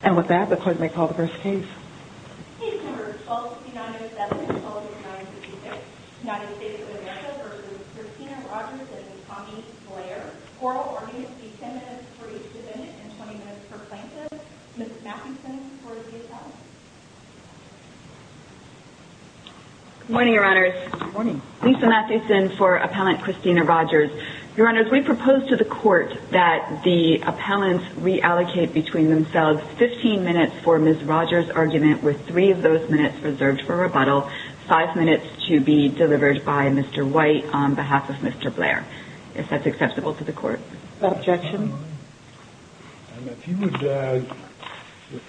and Tommy Blair, oral arguments be 10 minutes for each defendant and 20 minutes for plaintiffs. Ms. Mathieson for the appellant. Good morning, Your Honors. Good morning. Lisa Mathieson for appellant Christina Rogers. Your Honors, we propose to the court that the appellants reallocate between themselves 15 minutes for Ms. Rogers' argument with 3 of those minutes reserved for rebuttal, 5 minutes to be delivered by Mr. White on behalf of Mr. Blair, if that's acceptable to the court. Is that an objection?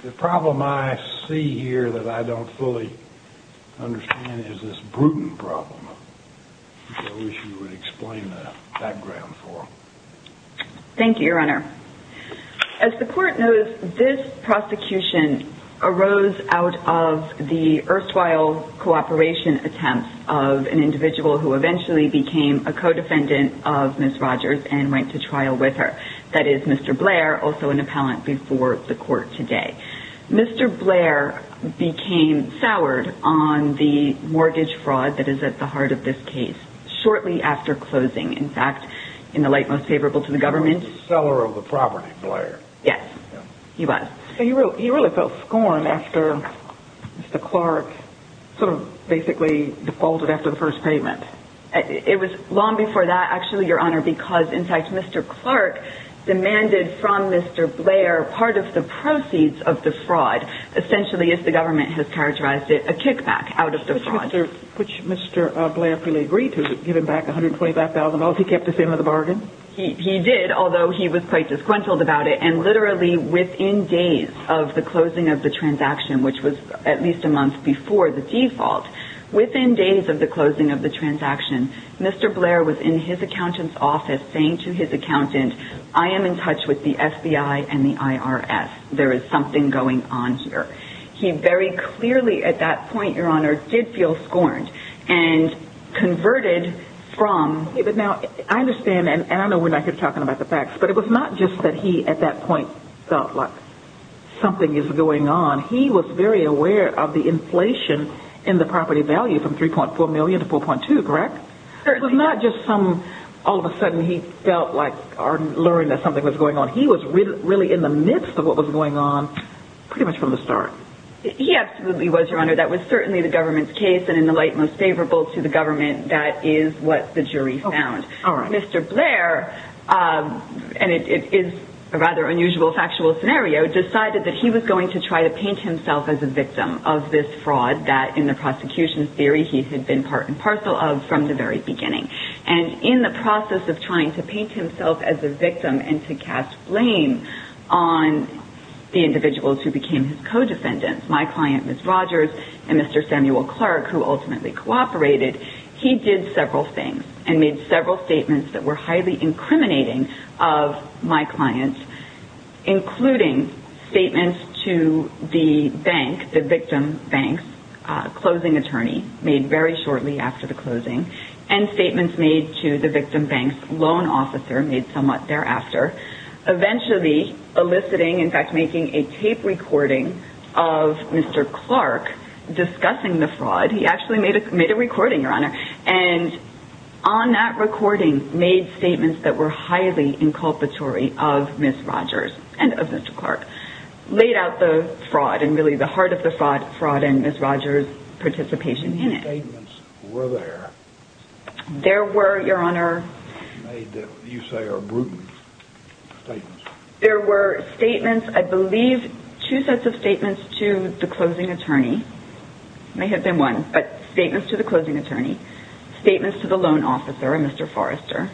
The problem I see here that I don't fully understand is this Bruton problem. I wish you would explain the background for me. As the court knows, this prosecution arose out of the erstwhile cooperation attempts of an individual who eventually became a co-defendant of Ms. Rogers and went to trial with her. That is Mr. Blair, also an appellant before the court today. Mr. Blair became soured on the mortgage fraud that is at the heart of this case shortly after closing. In fact, in the light most favorable to the government. The seller of the property, Blair. Yes, he was. So he really felt scorned after Mr. Clark sort of basically defaulted after the first payment. It was long before that, actually, Your Honor, because, in fact, Mr. Clark demanded from Mr. Blair part of the proceeds of the fraud, essentially, as the government has characterized it, a kickback out of the fraud. Which Mr. Blair fully agreed to, to give him back $125,000. He kept the same of the bargain? He did, although he was quite disgruntled about it. And literally within days of the closing of the transaction, which was at least a month before the default, within days of the closing of the transaction, Mr. Blair was in his accountant's office saying to his accountant, I am in touch with the FBI and the IRS. There is something going on here. He very clearly at that point, Your Honor, did feel scorned. And converted from... But now, I understand, and I know we're not here talking about the facts, but it was not just that he at that point felt like something is going on. He was very aware of the inflation in the property value from $3.4 million to $4.2 million, correct? Certainly. It was not just some, all of a sudden he felt like, or learned that something was going on. He was really in the midst of what was going on pretty much from the start. He absolutely was, Your Honor. That was certainly the government's case, and in the light most favorable to the government, that is what the jury found. Mr. Blair, and it is a rather unusual factual scenario, decided that he was going to try to paint himself as a victim of this fraud that in the prosecution's theory he had been part and parcel of from the very beginning. And in the process of trying to paint himself as a victim and to cast blame on the individuals who became his co-defendants, my client, Ms. Rogers, and Mr. Samuel Clark, who ultimately cooperated, he did several things and made several statements that were highly incriminating of my client, including statements to the bank, the victim bank's closing attorney, made very shortly after the closing, and statements made to the victim bank's loan officer, made somewhat thereafter, eventually eliciting, in fact making a tape recording of Mr. Clark discussing the fraud. He actually made a recording, Your Honor, and on that recording made statements that were highly inculpatory of Ms. Rogers and of Mr. Clark, laid out the fraud and really the heart of the fraud and Ms. Rogers' participation in it. There were, Your Honor, there were statements, I believe two sets of statements to the closing attorney, statements to the loan officer and Mr. Forrester.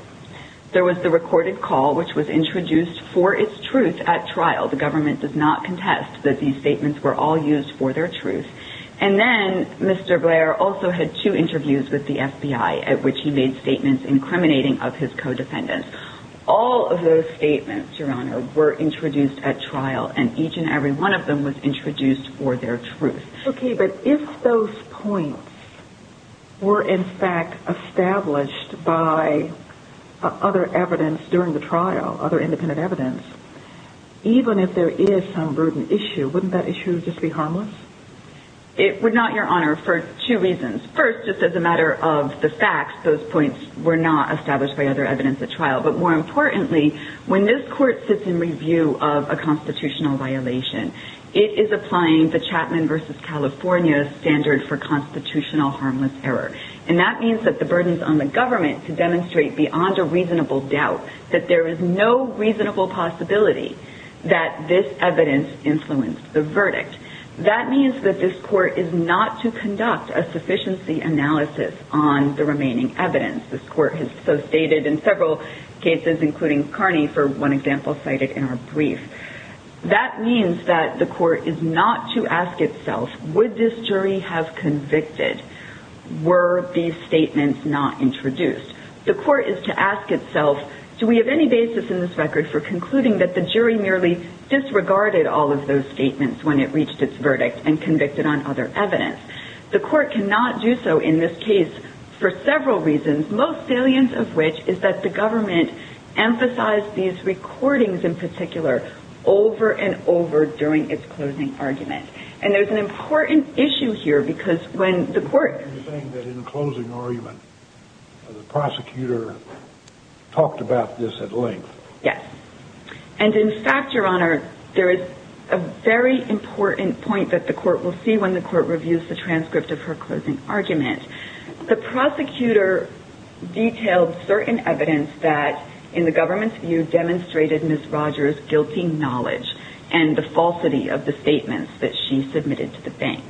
There was the recorded call which was introduced for its truth at trial. The government does not contest that these statements were all used for their truth. And then Mr. Blair also had two interviews with the FBI at which he made statements incriminating of his co-defendants. All of those statements, Your Honor, were introduced at trial and each and every one of them was introduced for their truth. Okay, but if those points were in fact established by other evidence during the trial, other independent evidence, even if there is some burden issue, wouldn't that issue just be harmless? It would not, Your Honor, for two reasons. First, just as a matter of the facts, those points were not established by other evidence at trial. But more importantly, when this court sits in review of a constitutional violation, it is applying the Chapman v. California standard for constitutional harmless error. And that means that the burden is on the government to demonstrate beyond a reasonable doubt that there is no reasonable possibility that this evidence influenced the verdict. That means that this court is not to conduct a sufficiency analysis on the remaining evidence. This court has substated in several cases, including Carney, for one example cited in our brief. That means that the court is not to ask itself, would this jury have convicted were these statements not introduced? The court is to ask itself, do we have any basis in this record for concluding that the jury merely disregarded all of those statements when it reached its verdict and convicted on other evidence? The court cannot do so in this case for several reasons, most salient of which is that the government emphasized these recordings in particular over and over during its closing argument. And there's an important issue here because when the court... You're saying that in the closing argument, the prosecutor talked about this at length. Yes. And in fact, Your Honor, there is a very important point that the court will see when the court reviews the transcript of her closing argument. The prosecutor detailed certain evidence that in the government's view demonstrated Ms. Rogers' guilty knowledge and the falsity of the statements that she submitted to the bank.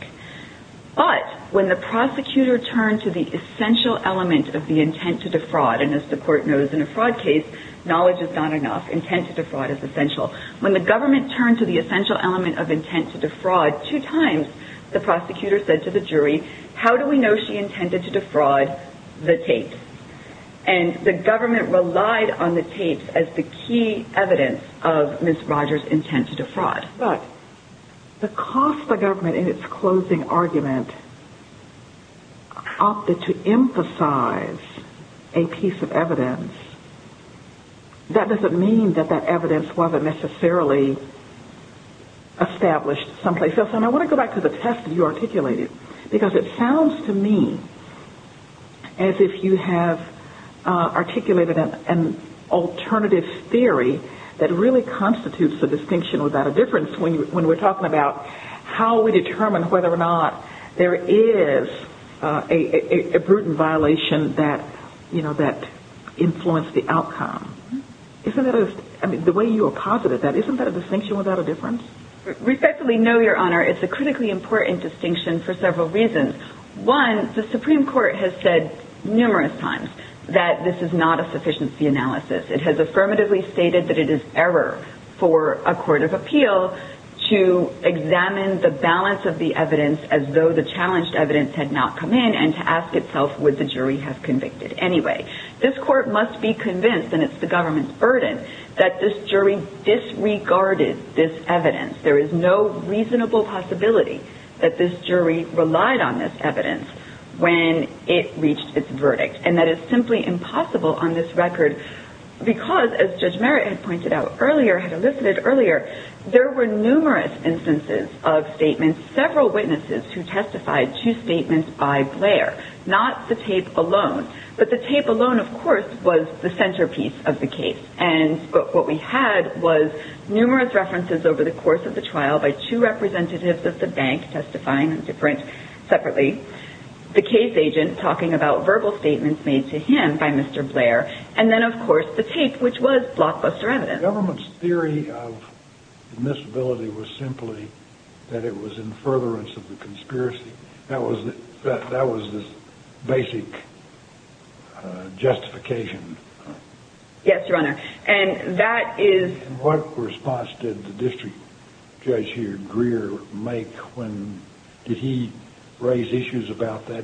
But when the prosecutor turned to the essential element of the intent to defraud, and as the court knows in a fraud case, knowledge is not enough. When the government turned to the essential element of intent to defraud, two times the prosecutor said to the jury, how do we know she intended to defraud the tapes? And the government relied on the tapes as the key evidence of Ms. Rogers' intent to defraud. But the cost the government in its closing argument opted to emphasize a piece of evidence, that doesn't mean that that evidence wasn't necessarily established someplace else. And I want to go back to the test that you articulated, because it sounds to me as if you have articulated an alternative theory that really constitutes a distinction without a difference when we're talking about how we determine whether or not there is a brutal violation that influenced the outcome. The way you apposited that, isn't that a distinction without a difference? Respectfully, no, Your Honor. It's a critically important distinction for several reasons. One, the Supreme Court has said numerous times that this is not a sufficiency analysis. It has affirmatively stated that it is error for a court of appeal to examine the balance of the evidence as though the challenged evidence had not come in, and to ask itself would the jury have convicted anyway. This court must be convinced, and it's the government's burden, that this jury disregarded this evidence. There is no reasonable possibility that this jury relied on this evidence when it reached its verdict. And that is simply impossible on this record, because as Judge Merritt had pointed out earlier, had elicited earlier, there were numerous instances of statements, several witnesses who testified to statements by Blair, not the tape alone. But the tape alone, of course, was the centerpiece of the case. And what we had was numerous references over the course of the trial by two representatives of the bank testifying separately, the case agent talking about verbal statements made to him by Mr. Blair, and then, of course, the tape, which was blockbuster evidence. The government's theory of admissibility was simply that it was in furtherance of the conspiracy. That was the basic justification. Yes, Your Honor. And that is… And what response did the district judge here, Greer, make when – did he raise issues about that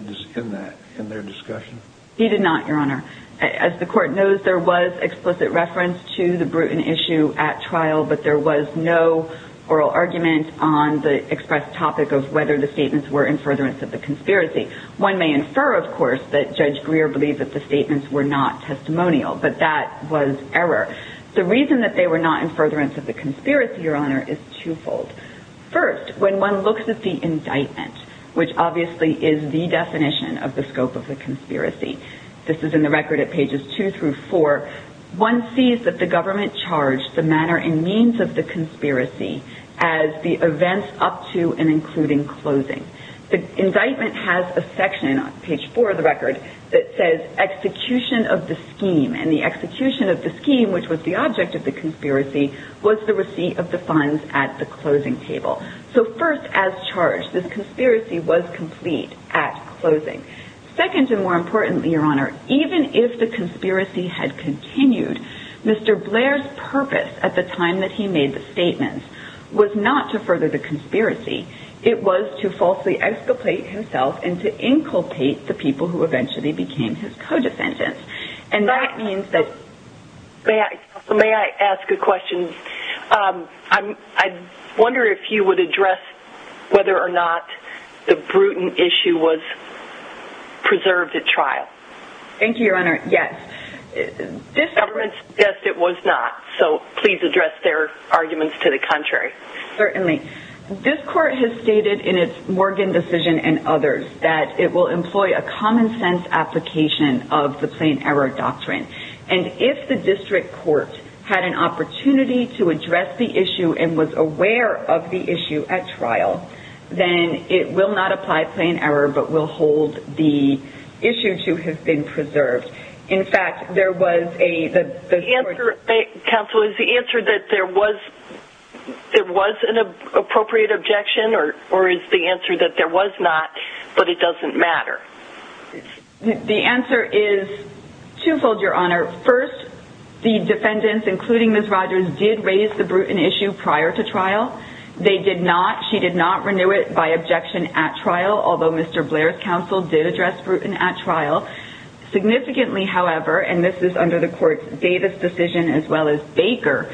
in their discussion? He did not, Your Honor. As the court knows, there was explicit reference to the Bruton issue at trial, but there was no oral argument on the expressed topic of whether the statements were in furtherance of the conspiracy. One may infer, of course, that Judge Greer believed that the statements were not testimonial, but that was error. The reason that they were not in furtherance of the conspiracy, Your Honor, is twofold. First, when one looks at the indictment, which obviously is the definition of the scope of the conspiracy – this is in the record at pages two through four – one sees that the government charged the manner and means of the conspiracy as the events up to and including closing. The indictment has a section on page four of the record that says execution of the scheme. And the execution of the scheme, which was the object of the conspiracy, was the receipt of the funds at the closing table. So first, as charged, this conspiracy was complete at closing. Second, and more importantly, Your Honor, even if the conspiracy had continued, Mr. Blair's purpose at the time that he made the statements was not to further the conspiracy. It was to falsely exculpate himself and to inculpate the people who eventually became his co-defendants. And that means that – May I ask a question? I wonder if you would address whether or not the Bruton issue was preserved at trial. Thank you, Your Honor. Yes. The government suggested it was not, so please address their arguments to the contrary. Certainly. This court has stated in its Morgan decision and others that it will employ a common sense application of the plain error doctrine. And if the district court had an opportunity to address the issue and was aware of the issue at trial, then it will not apply plain error but will hold the issue to have been preserved. In fact, there was a – Counsel, is the answer that there was an appropriate objection or is the answer that there was not but it doesn't matter? The answer is twofold, Your Honor. First, the defendants, including Ms. Rogers, did raise the Bruton issue prior to trial. They did not – she did not renew it by objection at trial, although Mr. Blair's counsel did address Bruton at trial. Significantly, however, and this is under the court's Davis decision as well as Baker.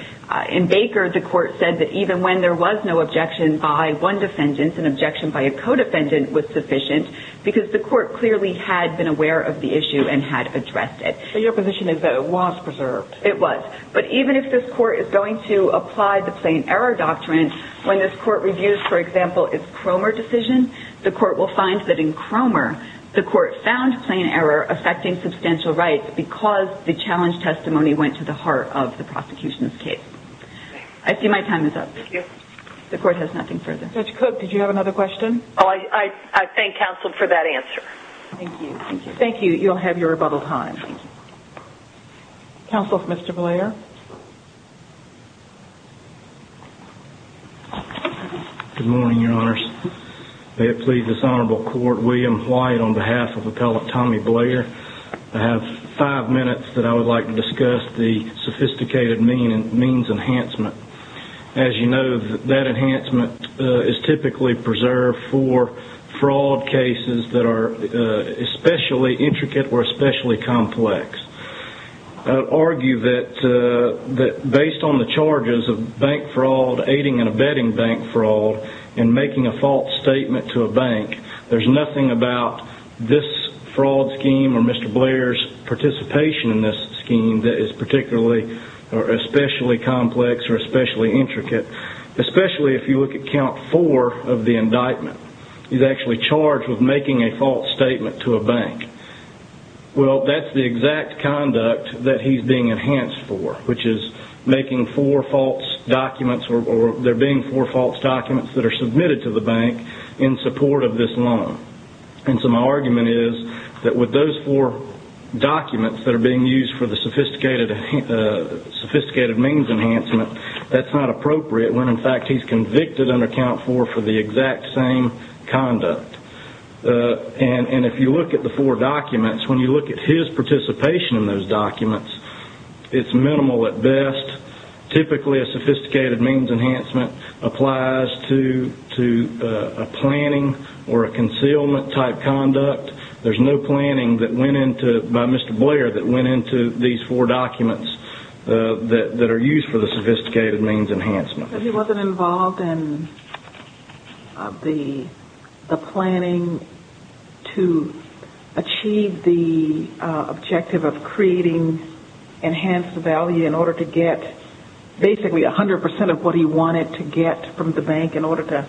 In Baker, the court said that even when there was no objection by one defendant, an objection by a co-defendant was sufficient because the court clearly had been aware of the issue and had addressed it. So your position is that it was preserved? It was. But even if this court is going to apply the plain error doctrine, when this court reviews, for example, its Cromer decision, the court will find that in Cromer, the court found plain error affecting substantial rights because the challenge testimony went to the heart of the prosecution's case. I see my time is up. Thank you. The court has nothing further. Judge Cook, did you have another question? Oh, I thank counsel for that answer. Thank you. Thank you. Thank you. You'll have your rebuttal time. Counsel, Mr. Blair? Good morning, your honors. May it please this honorable court, William Wyatt on behalf of appellate Tommy Blair. I have five minutes that I would like to discuss the sophisticated means enhancement. As you know, that enhancement is typically preserved for fraud cases that are especially intricate or especially complex. I would argue that based on the charges of bank fraud, aiding and abetting bank fraud, and making a false statement to a bank, there's nothing about this fraud scheme or Mr. Blair's participation in this scheme that is particularly or especially complex or especially intricate, especially if you look at count four of the indictment. He's actually charged with making a false statement to a bank. Well, that's the exact conduct that he's being enhanced for, which is making four false documents or there being four false documents that are submitted to the bank in support of this loan. And so my argument is that with those four documents that are being used for the sophisticated means enhancement, that's not appropriate when in fact he's convicted under count four for the exact same conduct. And if you look at the four documents, when you look at his participation in those documents, it's minimal at best. Typically, a sophisticated means enhancement applies to a planning or a concealment type conduct. There's no planning by Mr. Blair that went into these four documents that are used for the sophisticated means enhancement. He wasn't involved in the planning to achieve the objective of creating enhanced value in order to get basically 100% of what he wanted to get from the bank in order to...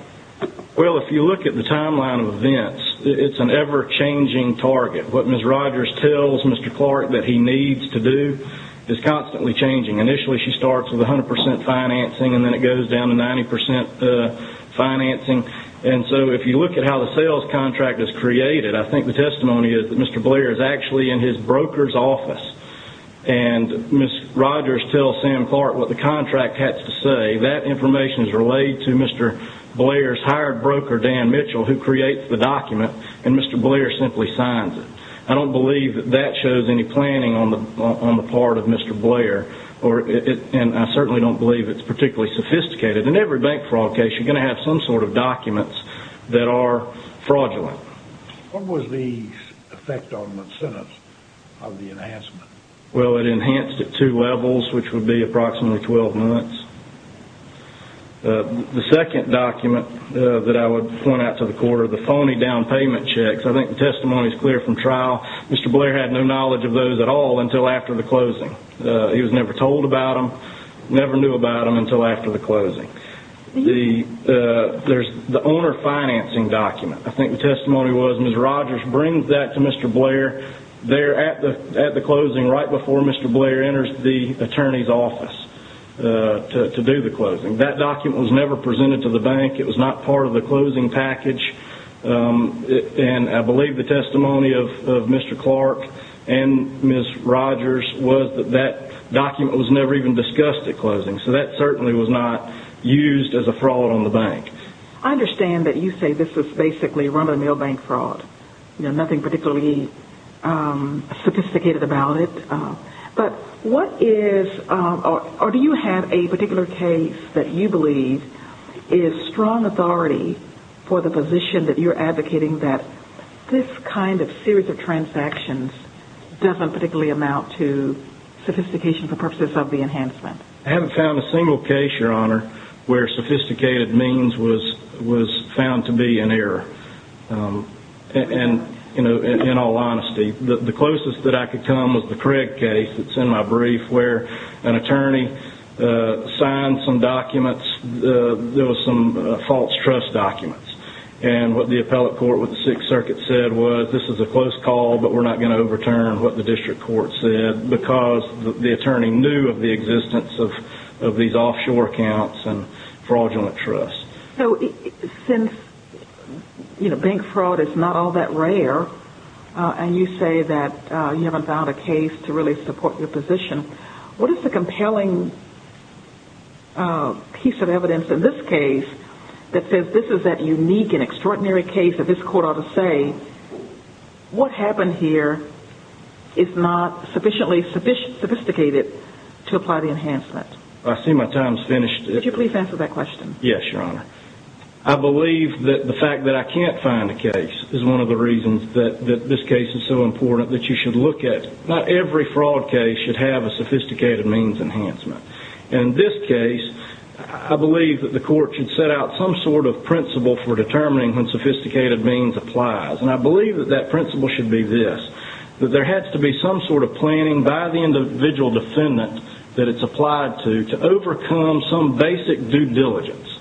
Well, if you look at the timeline of events, it's an ever-changing target. What Ms. Rogers tells Mr. Clark that he needs to do is constantly changing. Initially, she starts with 100% financing, and then it goes down to 90% financing. And so if you look at how the sales contract is created, I think the testimony is that Mr. Blair is actually in his broker's office. And Ms. Rogers tells Sam Clark what the contract has to say. That information is relayed to Mr. Blair's hired broker, Dan Mitchell, who creates the document, and Mr. Blair simply signs it. I don't believe that that shows any planning on the part of Mr. Blair, and I certainly don't believe it's particularly sophisticated. In every bank fraud case, you're going to have some sort of documents that are fraudulent. What was the effect on the incentives of the enhancement? Well, it enhanced at two levels, which would be approximately 12 months. The second document that I would point out to the court are the phony down payment checks. I think the testimony is clear from trial. Mr. Blair had no knowledge of those at all until after the closing. He was never told about them, never knew about them until after the closing. There's the owner financing document. I think the testimony was Ms. Rogers brings that to Mr. Blair there at the closing right before Mr. Blair enters the attorney's office to do the closing. That document was never presented to the bank. It was not part of the closing package. I believe the testimony of Mr. Clark and Ms. Rogers was that that document was never even discussed at closing. That certainly was not used as a fraud on the bank. I understand that you say this is basically run-of-the-mill bank fraud, nothing particularly sophisticated about it. Do you have a particular case that you believe is strong authority for the position that you're advocating that this kind of series of transactions doesn't particularly amount to sophistication for purposes of the enhancement? I haven't found a single case, Your Honor, where sophisticated means was found to be an error, in all honesty. The closest that I could come was the Craig case that's in my brief where an attorney signed some documents. There was some false trust documents. What the appellate court with the Sixth Circuit said was this is a close call, but we're not going to overturn what the district court said because the attorney knew of the existence of these offshore accounts and fraudulent trusts. Since bank fraud is not all that rare, and you say that you haven't found a case to really support your position, what is the compelling piece of evidence in this case that says this is that unique and extraordinary case that this court ought to say, what happened here is not sufficiently sophisticated to apply the enhancement? I see my time's finished. Could you please answer that question? Yes, Your Honor. I believe that the fact that I can't find a case is one of the reasons that this case is so important, that you should look at not every fraud case should have a sophisticated means enhancement. In this case, I believe that the court should set out some sort of principle for determining when sophisticated means applies, and I believe that that principle should be this, that there has to be some sort of planning by the individual defendant that it's applied to to overcome some basic due diligence.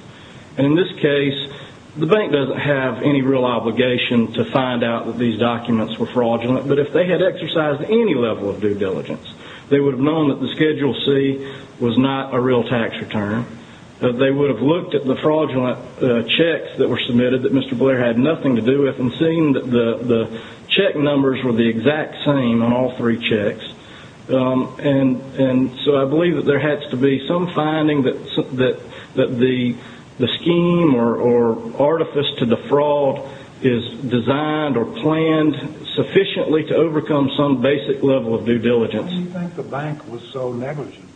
In this case, the bank doesn't have any real obligation to find out that these documents were fraudulent, but if they had exercised any level of due diligence, they would have known that the Schedule C was not a real tax return. They would have looked at the fraudulent checks that were submitted that Mr. Blair had nothing to do with and seen that the check numbers were the exact same on all three checks, and so I believe that there has to be some finding that the scheme or artifice to the fraud is designed or planned sufficiently to overcome some basic level of due diligence. Why do you think the bank was so negligent?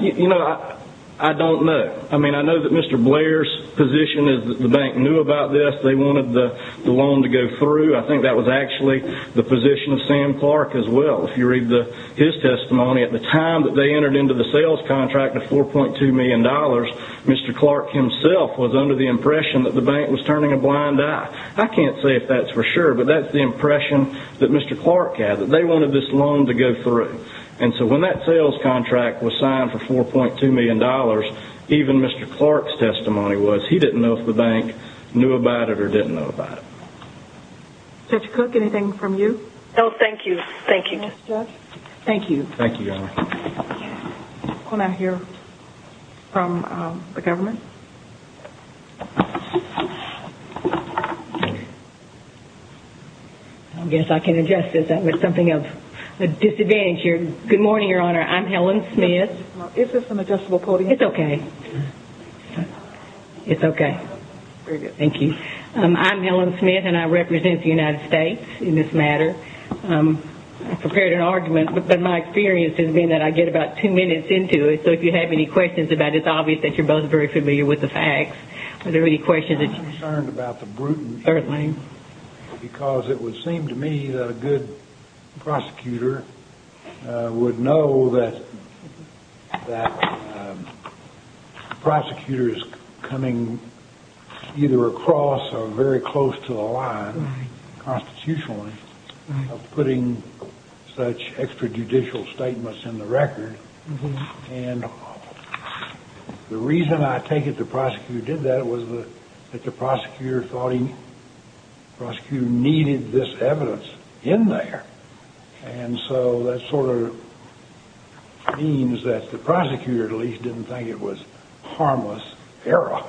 You know, I don't know. I mean, I know that Mr. Blair's position is that the bank knew about this. They wanted the loan to go through. I think that was actually the position of Sam Clark as well. If you read his testimony, at the time that they entered into the sales contract of $4.2 million, Mr. Clark himself was under the impression that the bank was turning a blind eye. I can't say if that's for sure, but that's the impression that Mr. Clark had, that they wanted this loan to go through, and so when that sales contract was signed for $4.2 million, even Mr. Clark's testimony was he didn't know if the bank knew about it or didn't know about it. Judge Cook, anything from you? No, thank you. Thank you. Thank you. Thank you, Your Honor. We'll now hear from the government. I guess I can adjust this. That was something of a disadvantage here. Good morning, Your Honor. I'm Helen Smith. Is this an adjustable podium? It's okay. It's okay. Very good. Thank you. I'm Helen Smith, and I represent the United States in this matter. I prepared an argument, but my experience has been that I get about two minutes into it, so if you have any questions about it, it's obvious that you're both very familiar with the facts. Are there any questions that you have? I'm concerned about the brutality because it would seem to me that a good prosecutor would know that the prosecutor is coming either across or very close to the line constitutionally of putting such extrajudicial statements in the record, and the reason I take it the prosecutor did that was that the prosecutor thought he needed this evidence in there, and so that sort of means that the prosecutor, at least, didn't think it was harmless error.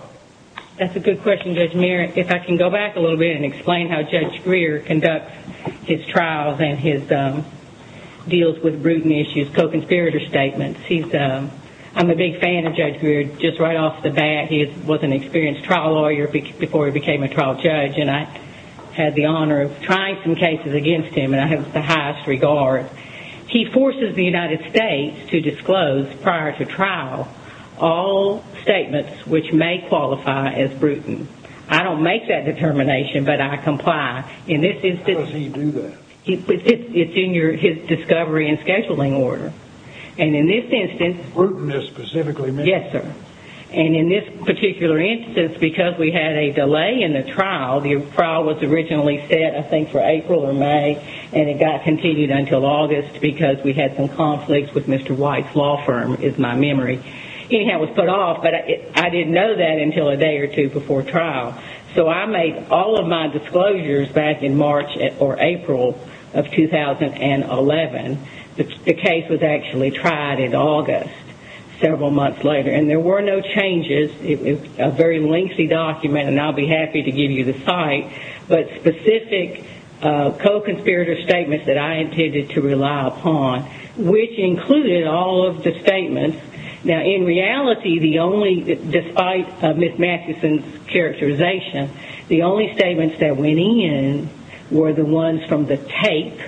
That's a good question, Judge Muir. If I can go back a little bit and explain how Judge Greer conducts his trials and his deals with brutal issues, co-conspirator statements. I'm a big fan of Judge Greer just right off the bat. He was an experienced trial lawyer before he became a trial judge, and I had the honor of trying some cases against him, and I have the highest regard. He forces the United States to disclose prior to trial all statements which may qualify as brutal. I don't make that determination, but I comply. How does he do that? It's in his discovery and scheduling order, and in this instance— Brutalness specifically means— Yes, sir. And in this particular instance, because we had a delay in the trial, the trial was originally set, I think, for April or May, and it got continued until August because we had some conflicts with Mr. White's law firm, is my memory. Anyhow, it was put off, but I didn't know that until a day or two before trial. So I made all of my disclosures back in March or April of 2011. The case was actually tried in August several months later, and there were no changes. It's a very lengthy document, and I'll be happy to give you the site, but specific co-conspirator statements that I intended to rely upon, which included all of the statements. Now, in reality, the only—despite Ms. Matheson's characterization, the only statements that went in were the ones from the tape,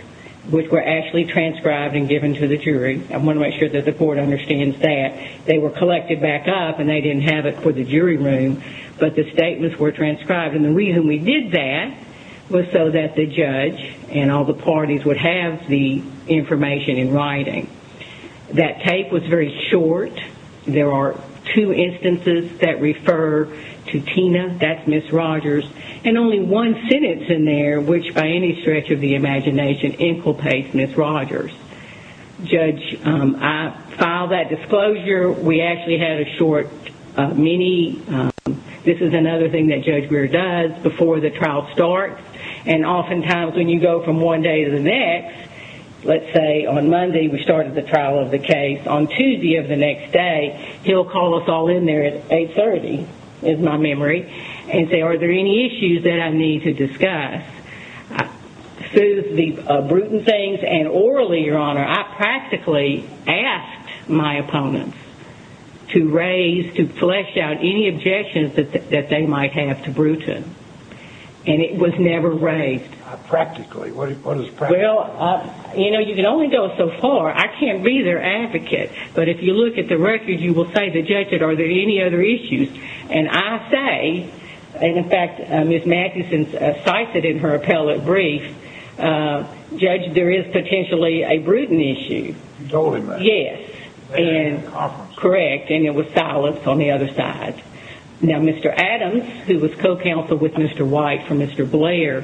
which were actually transcribed and given to the jury. I want to make sure that the court understands that. They were collected back up, and they didn't have it for the jury room, but the statements were transcribed, and the reason we did that was so that the judge and all the parties would have the information in writing. That tape was very short. There are two instances that refer to Tina. That's Ms. Rogers, and only one sentence in there, which by any stretch of the imagination, inculpates Ms. Rogers. Judge, I filed that disclosure. We actually had a short mini—this is another thing that Judge Greer does before the trial starts, and oftentimes when you go from one day to the next, let's say on Monday, we started the trial of the case, on Tuesday of the next day, he'll call us all in there at 830, is my memory, and say, are there any issues that I need to discuss? Through the Bruton things and orally, Your Honor, I practically asked my opponents to raise, to flesh out any objections that they might have to Bruton, and it was never raised. Practically? What is practically? Well, you know, you can only go so far. I can't be their advocate, but if you look at the record, you will say to the judge, are there any other issues? And I say, and in fact, Ms. Matheson cites it in her appellate brief, Judge, there is potentially a Bruton issue. You told him that? Yes. At the conference? Correct, and it was silenced on the other side. Now, Mr. Adams, who was co-counsel with Mr. White for Mr. Blair,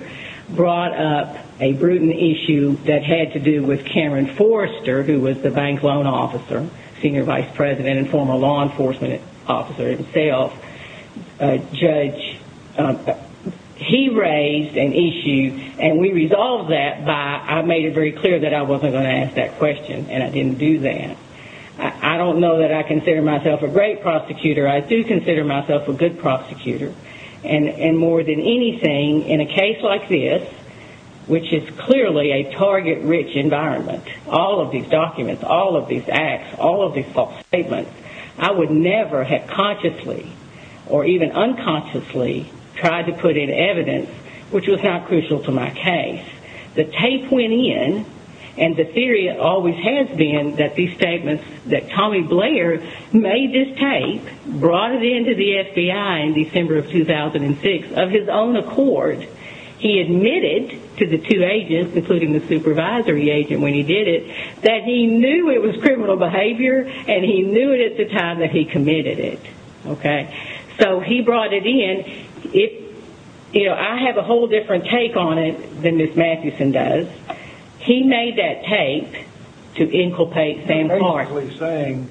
brought up a Bruton issue that had to do with Cameron Forrester, who was the bank loan officer, senior vice president and former law enforcement officer himself. Judge, he raised an issue, and we resolved that by, I made it very clear that I wasn't going to ask that question, and I didn't do that. I don't know that I consider myself a great prosecutor. I do consider myself a good prosecutor. And more than anything, in a case like this, which is clearly a target-rich environment, all of these documents, all of these acts, all of these false statements, I would never have consciously or even unconsciously tried to put in evidence which was not crucial to my case. The tape went in, and the theory always has been that these statements, that Tommy Blair made this tape, brought it into the FBI in December of 2006 of his own accord. He admitted to the two agents, including the supervisory agent when he did it, that he knew it was criminal behavior, and he knew it at the time that he committed it. So he brought it in. I have a whole different take on it than Ms. Mathewson does. He made that tape to inculpate Sam Clark. You're basically saying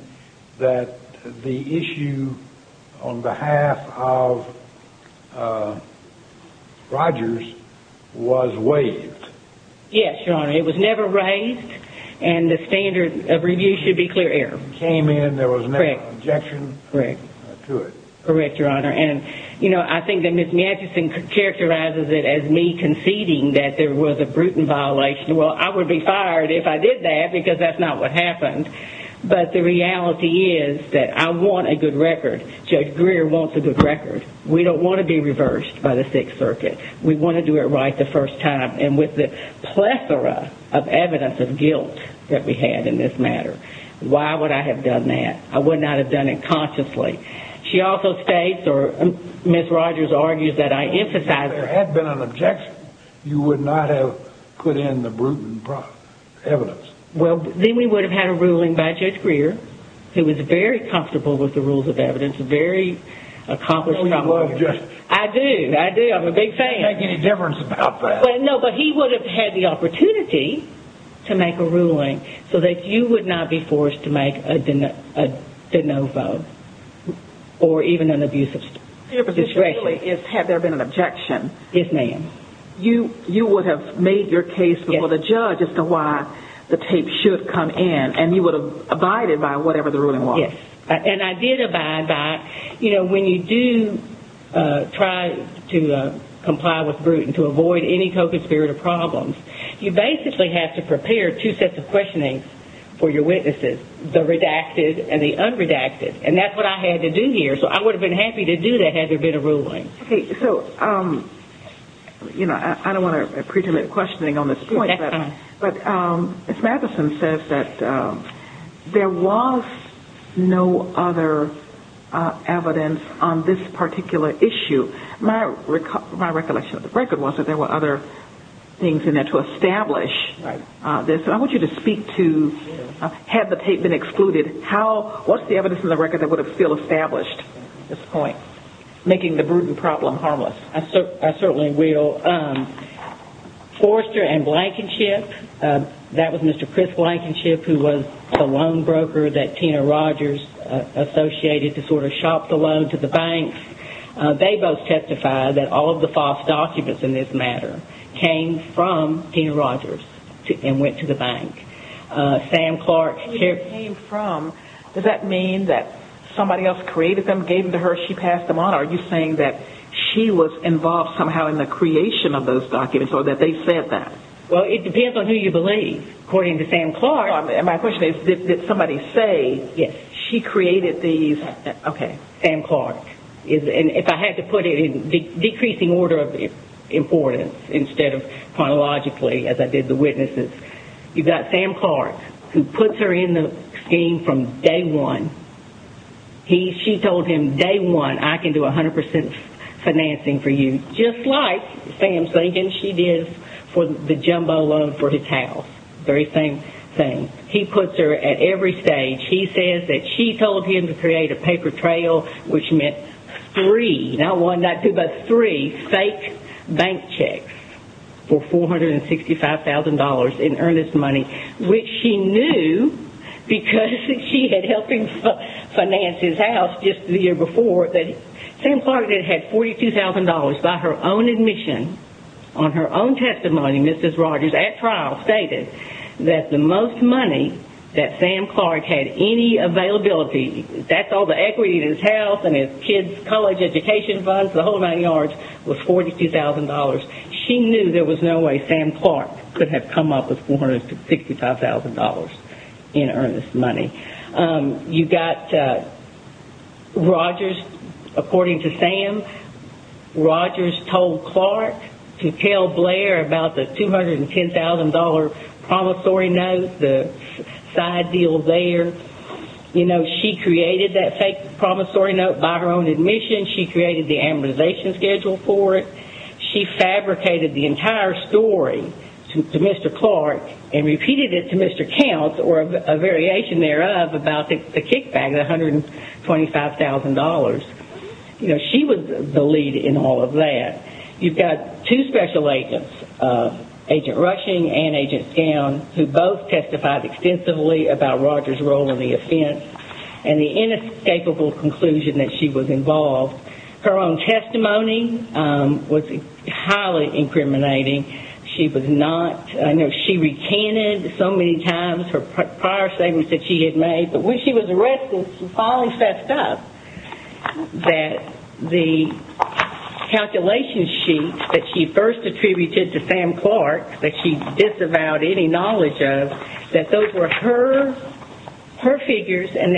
that the issue on behalf of Rogers was waived. Yes, Your Honor. It was never raised, and the standard of review should be clear error. It came in. There was never an objection to it. Correct, Your Honor. I think that Ms. Mathewson characterizes it as me conceding that there was a Bruton violation. Well, I would be fired if I did that because that's not what happened, but the reality is that I want a good record. Judge Greer wants a good record. We don't want to be reversed by the Sixth Circuit. We want to do it right the first time, and with the plethora of evidence of guilt that we had in this matter, why would I have done that? I would not have done it consciously. She also states, or Ms. Rogers argues that I emphasize it. If there had been an objection, you would not have put in the Bruton evidence. Well, then we would have had a ruling by Judge Greer, who was very comfortable with the rules of evidence, very accomplished. Don't we love Judge Greer? I do. I do. I'm a big fan. It doesn't make any difference about that. No, but he would have had the opportunity to make a ruling so that you would not be forced to make a de novo, or even an abuse of discretion. Your position really is had there been an objection. Yes, ma'am. You would have made your case before the judge as to why the tape should come in, and you would have abided by whatever the ruling was. Yes. And I did abide by, you know, when you do try to comply with Bruton to avoid any co-conspirator problems, you basically have to prepare two sets of questionings for your witnesses, the redacted and the unredacted. And that's what I had to do here. So I would have been happy to do that had there been a ruling. Okay, so, you know, I don't want to pre-terminate questioning on this point, but Ms. Matheson says that there was no other evidence on this particular issue. My recollection of the record was that there were other things in there to establish this. I want you to speak to, had the tape been excluded, what's the evidence in the record that would have still established this point, making the Bruton problem harmless? I certainly will. Forrester and Blankenship, that was Mr. Chris Blankenship, who was the loan broker that Tina Rogers associated to sort of shop the loan to the bank. They both testified that all of the false documents in this matter came from Tina Rogers and went to the bank. Sam Clark. When it came from, does that mean that somebody else created them, gave them to her, she passed them on? Are you saying that she was involved somehow in the creation of those documents or that they said that? Well, it depends on who you believe. According to Sam Clark. My question is, did somebody say she created these? Okay. Sam Clark. And if I had to put it in decreasing order of importance instead of chronologically, as I did the witnesses, you've got Sam Clark, who puts her in the scheme from day one. She told him, day one, I can do 100% financing for you, just like Sam's thinking she did for the jumbo loan for his house. Very same thing. He puts her at every stage. He says that she told him to create a paper trail, which meant three, not one, not two, but three fake bank checks for $465,000. And earn this money, which she knew, because she had helped him finance his house just the year before, that Sam Clark had had $42,000 by her own admission. On her own testimony, Mrs. Rogers, at trial, stated that the most money that Sam Clark had any availability, that's all the equity in his house and his kids' college education funds, the whole nine yards, was $42,000. She knew there was no way Sam Clark could have come up with $465,000 in earnest money. You've got Rogers, according to Sam, Rogers told Clark to tell Blair about the $210,000 promissory note, the side deal there. You know, she created that fake promissory note by her own admission. She created the amortization schedule for it. She fabricated the entire story to Mr. Clark and repeated it to Mr. Counts, or a variation thereof, about the kickback, the $125,000. You know, she was the lead in all of that. You've got two special agents, Agent Rushing and Agent Down, who both testified extensively about Rogers' role in the offense and the inescapable conclusion that she was involved. Her own testimony was highly incriminating. She was not, I know she recanted so many times her prior statements that she had made, but when she was arrested, she finally fessed up that the calculation sheet that she first attributed to Sam Clark, that she disavowed any knowledge of, that those were her figures, and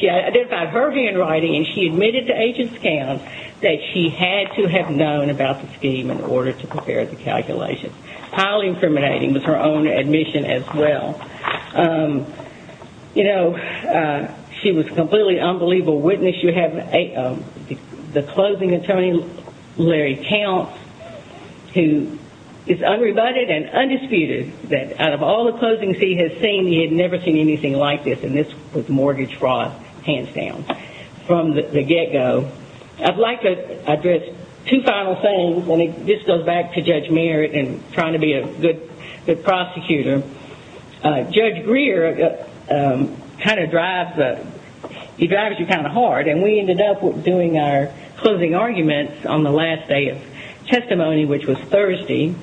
she identified her handwriting and she admitted to Agent Down that she had to have known about the scheme in order to prepare the calculation. Highly incriminating was her own admission as well. You know, she was a completely unbelievable witness. You have the closing attorney, Larry Counts, who is unrebutted and undisputed, that out of all the closings he has seen, he had never seen anything like this, and this was mortgage fraud, hands down, from the get-go. I'd like to address two final things, and this goes back to Judge Merritt and trying to be a good prosecutor. Judge Greer kind of drives you kind of hard, and we ended up doing our closing arguments on the last day of testimony, which was Thursday.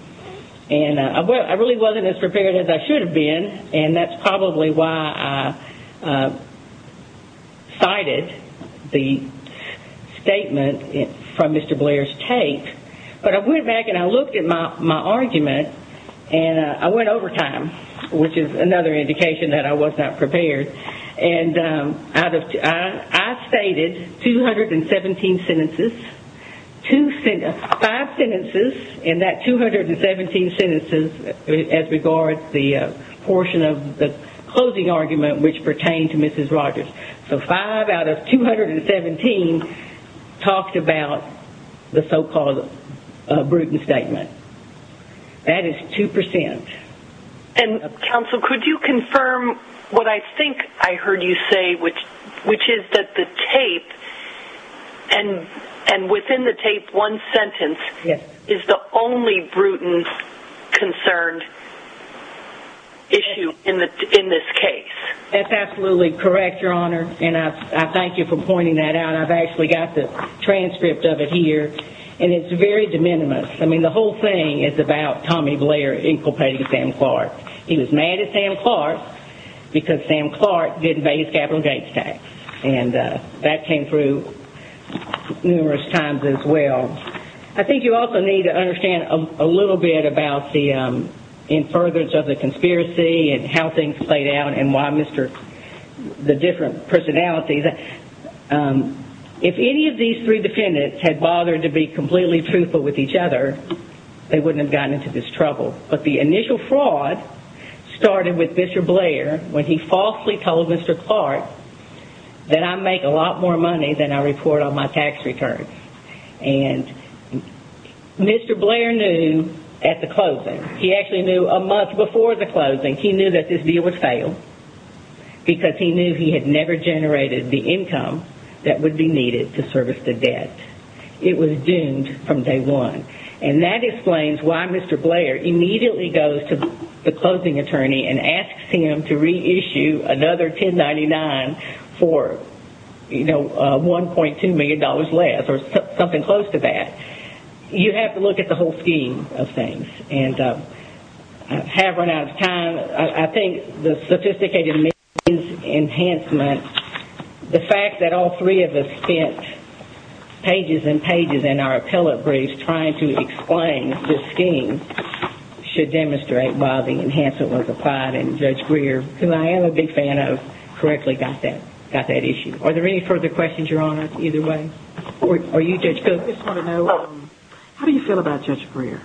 I really wasn't as prepared as I should have been, and that's probably why I cited the statement from Mr. Blair's tape, but I went back and I looked at my argument, and I went over time, which is another indication that I was not prepared. I stated 217 sentences, five sentences in that 217 sentences as regards the portion of the closing argument which pertained to Mrs. Rogers. So five out of 217 talked about the so-called Bruton statement. That is 2%. Counsel, could you confirm what I think I heard you say, which is that the tape and within the tape one sentence is the only Bruton concerned issue in this case? That's absolutely correct, Your Honor, and I thank you for pointing that out. I've actually got the transcript of it here, and it's very de minimis. I mean, the whole thing is about Tommy Blair inculpating Sam Clark. He was mad at Sam Clark because Sam Clark didn't pay his capital gains tax, and that came through numerous times as well. I think you also need to understand a little bit about the infurgence of the conspiracy and how things played out and why Mr. Clark, the different personalities, if any of these three defendants had bothered to be completely truthful with each other, they wouldn't have gotten into this trouble. But the initial fraud started with Mr. Blair when he falsely told Mr. Clark that I make a lot more money than I report on my tax return. And Mr. Blair knew at the closing. He actually knew a month before the closing. He knew that this deal would fail because he knew he had never generated the income that would be needed to service the debt. It was doomed from day one. And that explains why Mr. Blair immediately goes to the closing attorney and asks him to reissue another 1099 for, you know, $1.2 million less or something close to that. You have to look at the whole scheme of things. And I have run out of time. I think the sophisticated means enhancement, the fact that all three of us spent pages and pages in our appellate briefs trying to explain this scheme should demonstrate why the enhancement was applied. And Judge Greer, who I am a big fan of, correctly got that issue. Are there any further questions, Your Honor, either way? Or you, Judge Cook, just want to know how do you feel about Judge Greer?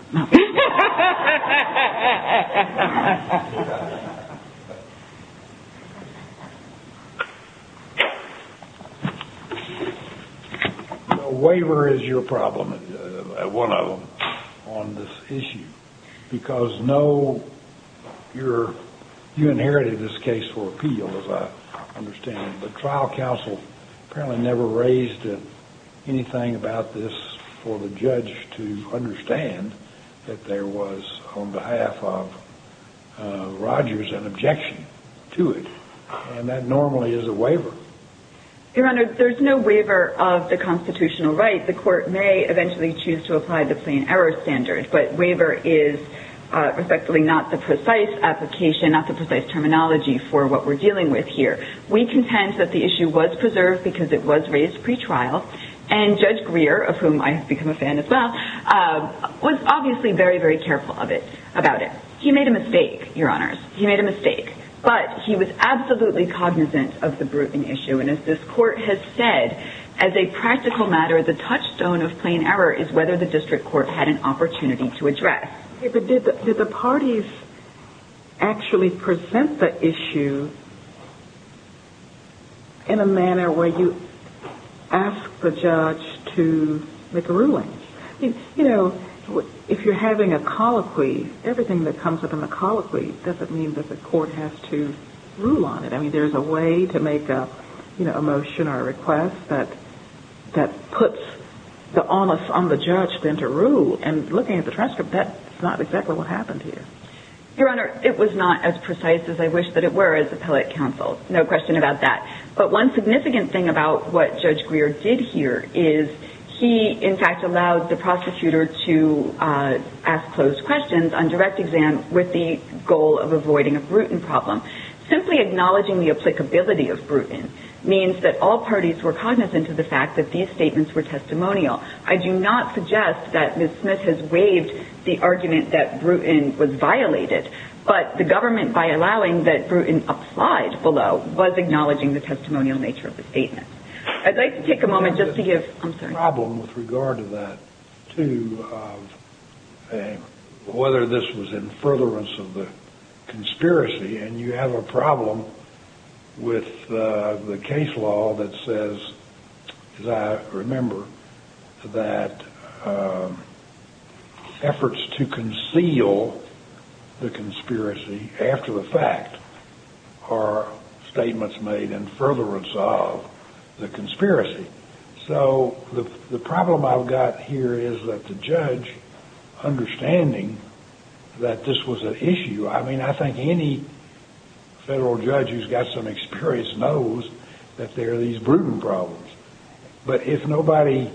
A waiver is your problem, one of them, on this issue. Because no, you inherited this case for appeal, as I understand. The trial counsel apparently never raised anything about this for the judge to understand that there was, on behalf of Rogers, an objection to it. And that normally is a waiver. Your Honor, there is no waiver of the constitutional right. The court may eventually choose to apply the plain error standard. But waiver is effectively not the precise application, not the precise terminology for what we're dealing with here. We contend that the issue was preserved because it was raised pretrial. And Judge Greer, of whom I have become a fan as well, was obviously very, very careful of it, about it. He made a mistake, Your Honors. He made a mistake. But he was absolutely cognizant of the brooding issue. And as this court has said, as a practical matter, the touchstone of plain error is whether the district court had an opportunity to address. But did the parties actually present the issue in a manner where you ask the judge to make a ruling? You know, if you're having a colloquy, everything that comes with a colloquy doesn't mean that the court has to rule on it. I mean, there's a way to make a motion or a request that puts the onus on the judge then to rule. And looking at the transcript, that's not exactly what happened here. Your Honor, it was not as precise as I wish that it were as appellate counsel. No question about that. But one significant thing about what Judge Greer did here is he, in fact, allowed the prosecutor to ask closed questions on direct exam with the goal of avoiding a brooding problem. Simply acknowledging the applicability of Bruton means that all parties were cognizant of the fact that these statements were testimonial. I do not suggest that Ms. Smith has waived the argument that Bruton was violated. But the government, by allowing that Bruton applied below, was acknowledging the testimonial nature of the statement. I'd like to take a moment just to give – I'm sorry. I have a problem with the case law that says, as I remember, that efforts to conceal the conspiracy after the fact are statements made in furtherance of the conspiracy. So the problem I've got here is that the judge, understanding that this was an issue – I mean, I think any federal judge who's got some experience knows that there are these Bruton problems. But if nobody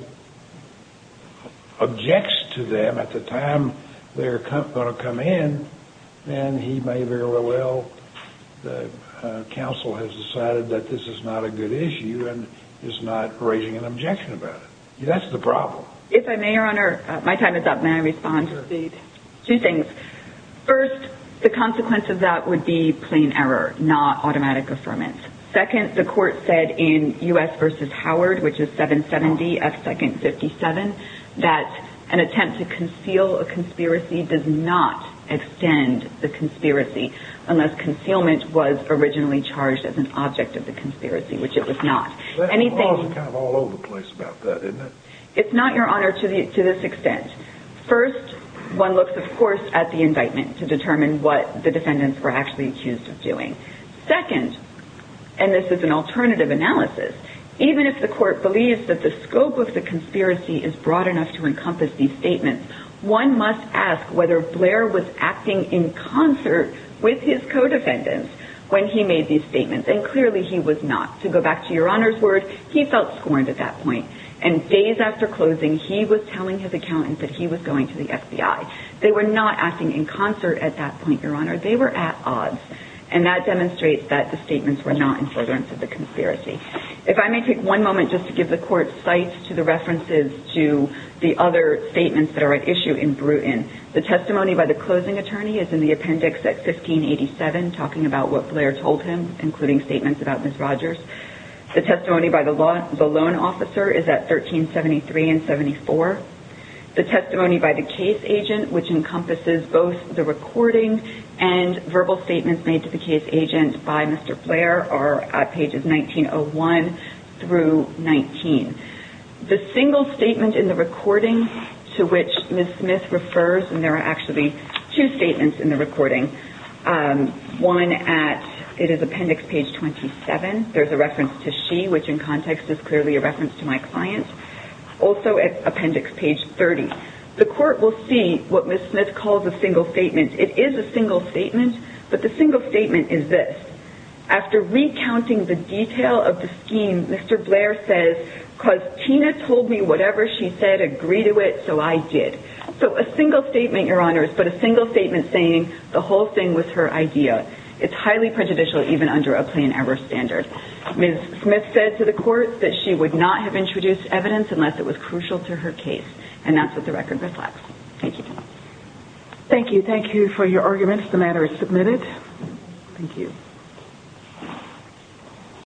objects to them at the time they're going to come in, then he may very well – the counsel has decided that this is not a good issue and is not raising an objection about it. That's the problem. If I may, Your Honor, my time is up. May I respond? Sure. Two things. First, the consequence of that would be plain error, not automatic affirmance. Second, the court said in U.S. v. Howard, which is 770 F. 2nd 57, that an attempt to conceal a conspiracy does not extend the conspiracy unless concealment was originally charged as an object of the conspiracy, which it was not. Anything – The law's kind of all over the place about that, isn't it? It's not, Your Honor, to this extent. First, one looks, of course, at the indictment to determine what the defendants were actually accused of doing. Second, and this is an alternative analysis, even if the court believes that the scope of the conspiracy is broad enough to encompass these statements, one must ask whether Blair was acting in concert with his co-defendants when he made these statements. And clearly he was not. To go back to Your Honor's word, he felt scorned at that point. And days after closing, he was telling his accountants that he was going to the FBI. They were not acting in concert at that point, Your Honor. They were at odds. And that demonstrates that the statements were not in furtherance of the conspiracy. If I may take one moment just to give the court sight to the references to the other statements that are at issue in Bruton. The testimony by the closing attorney is in the appendix at 1587, talking about what Blair told him, including statements about Ms. Rogers. The testimony by the loan officer is at 1373 and 74. The testimony by the case agent, which encompasses both the recording and verbal statements made to the case agent by Mr. Blair, are at pages 1901 through 19. The single statement in the recording to which Ms. Smith refers, one at, it is appendix page 27. There's a reference to she, which in context is clearly a reference to my client. Also at appendix page 30. The court will see what Ms. Smith calls a single statement. It is a single statement, but the single statement is this. After recounting the detail of the scheme, Mr. Blair says, because Tina told me whatever she said agreed to it, so I did. So a single statement, Your Honors, but a single statement saying the whole thing was her idea. It's highly prejudicial even under a plain error standard. Ms. Smith said to the court that she would not have introduced evidence unless it was crucial to her case, and that's what the record reflects. Thank you. Thank you. Thank you for your arguments. The matter is submitted. Thank you.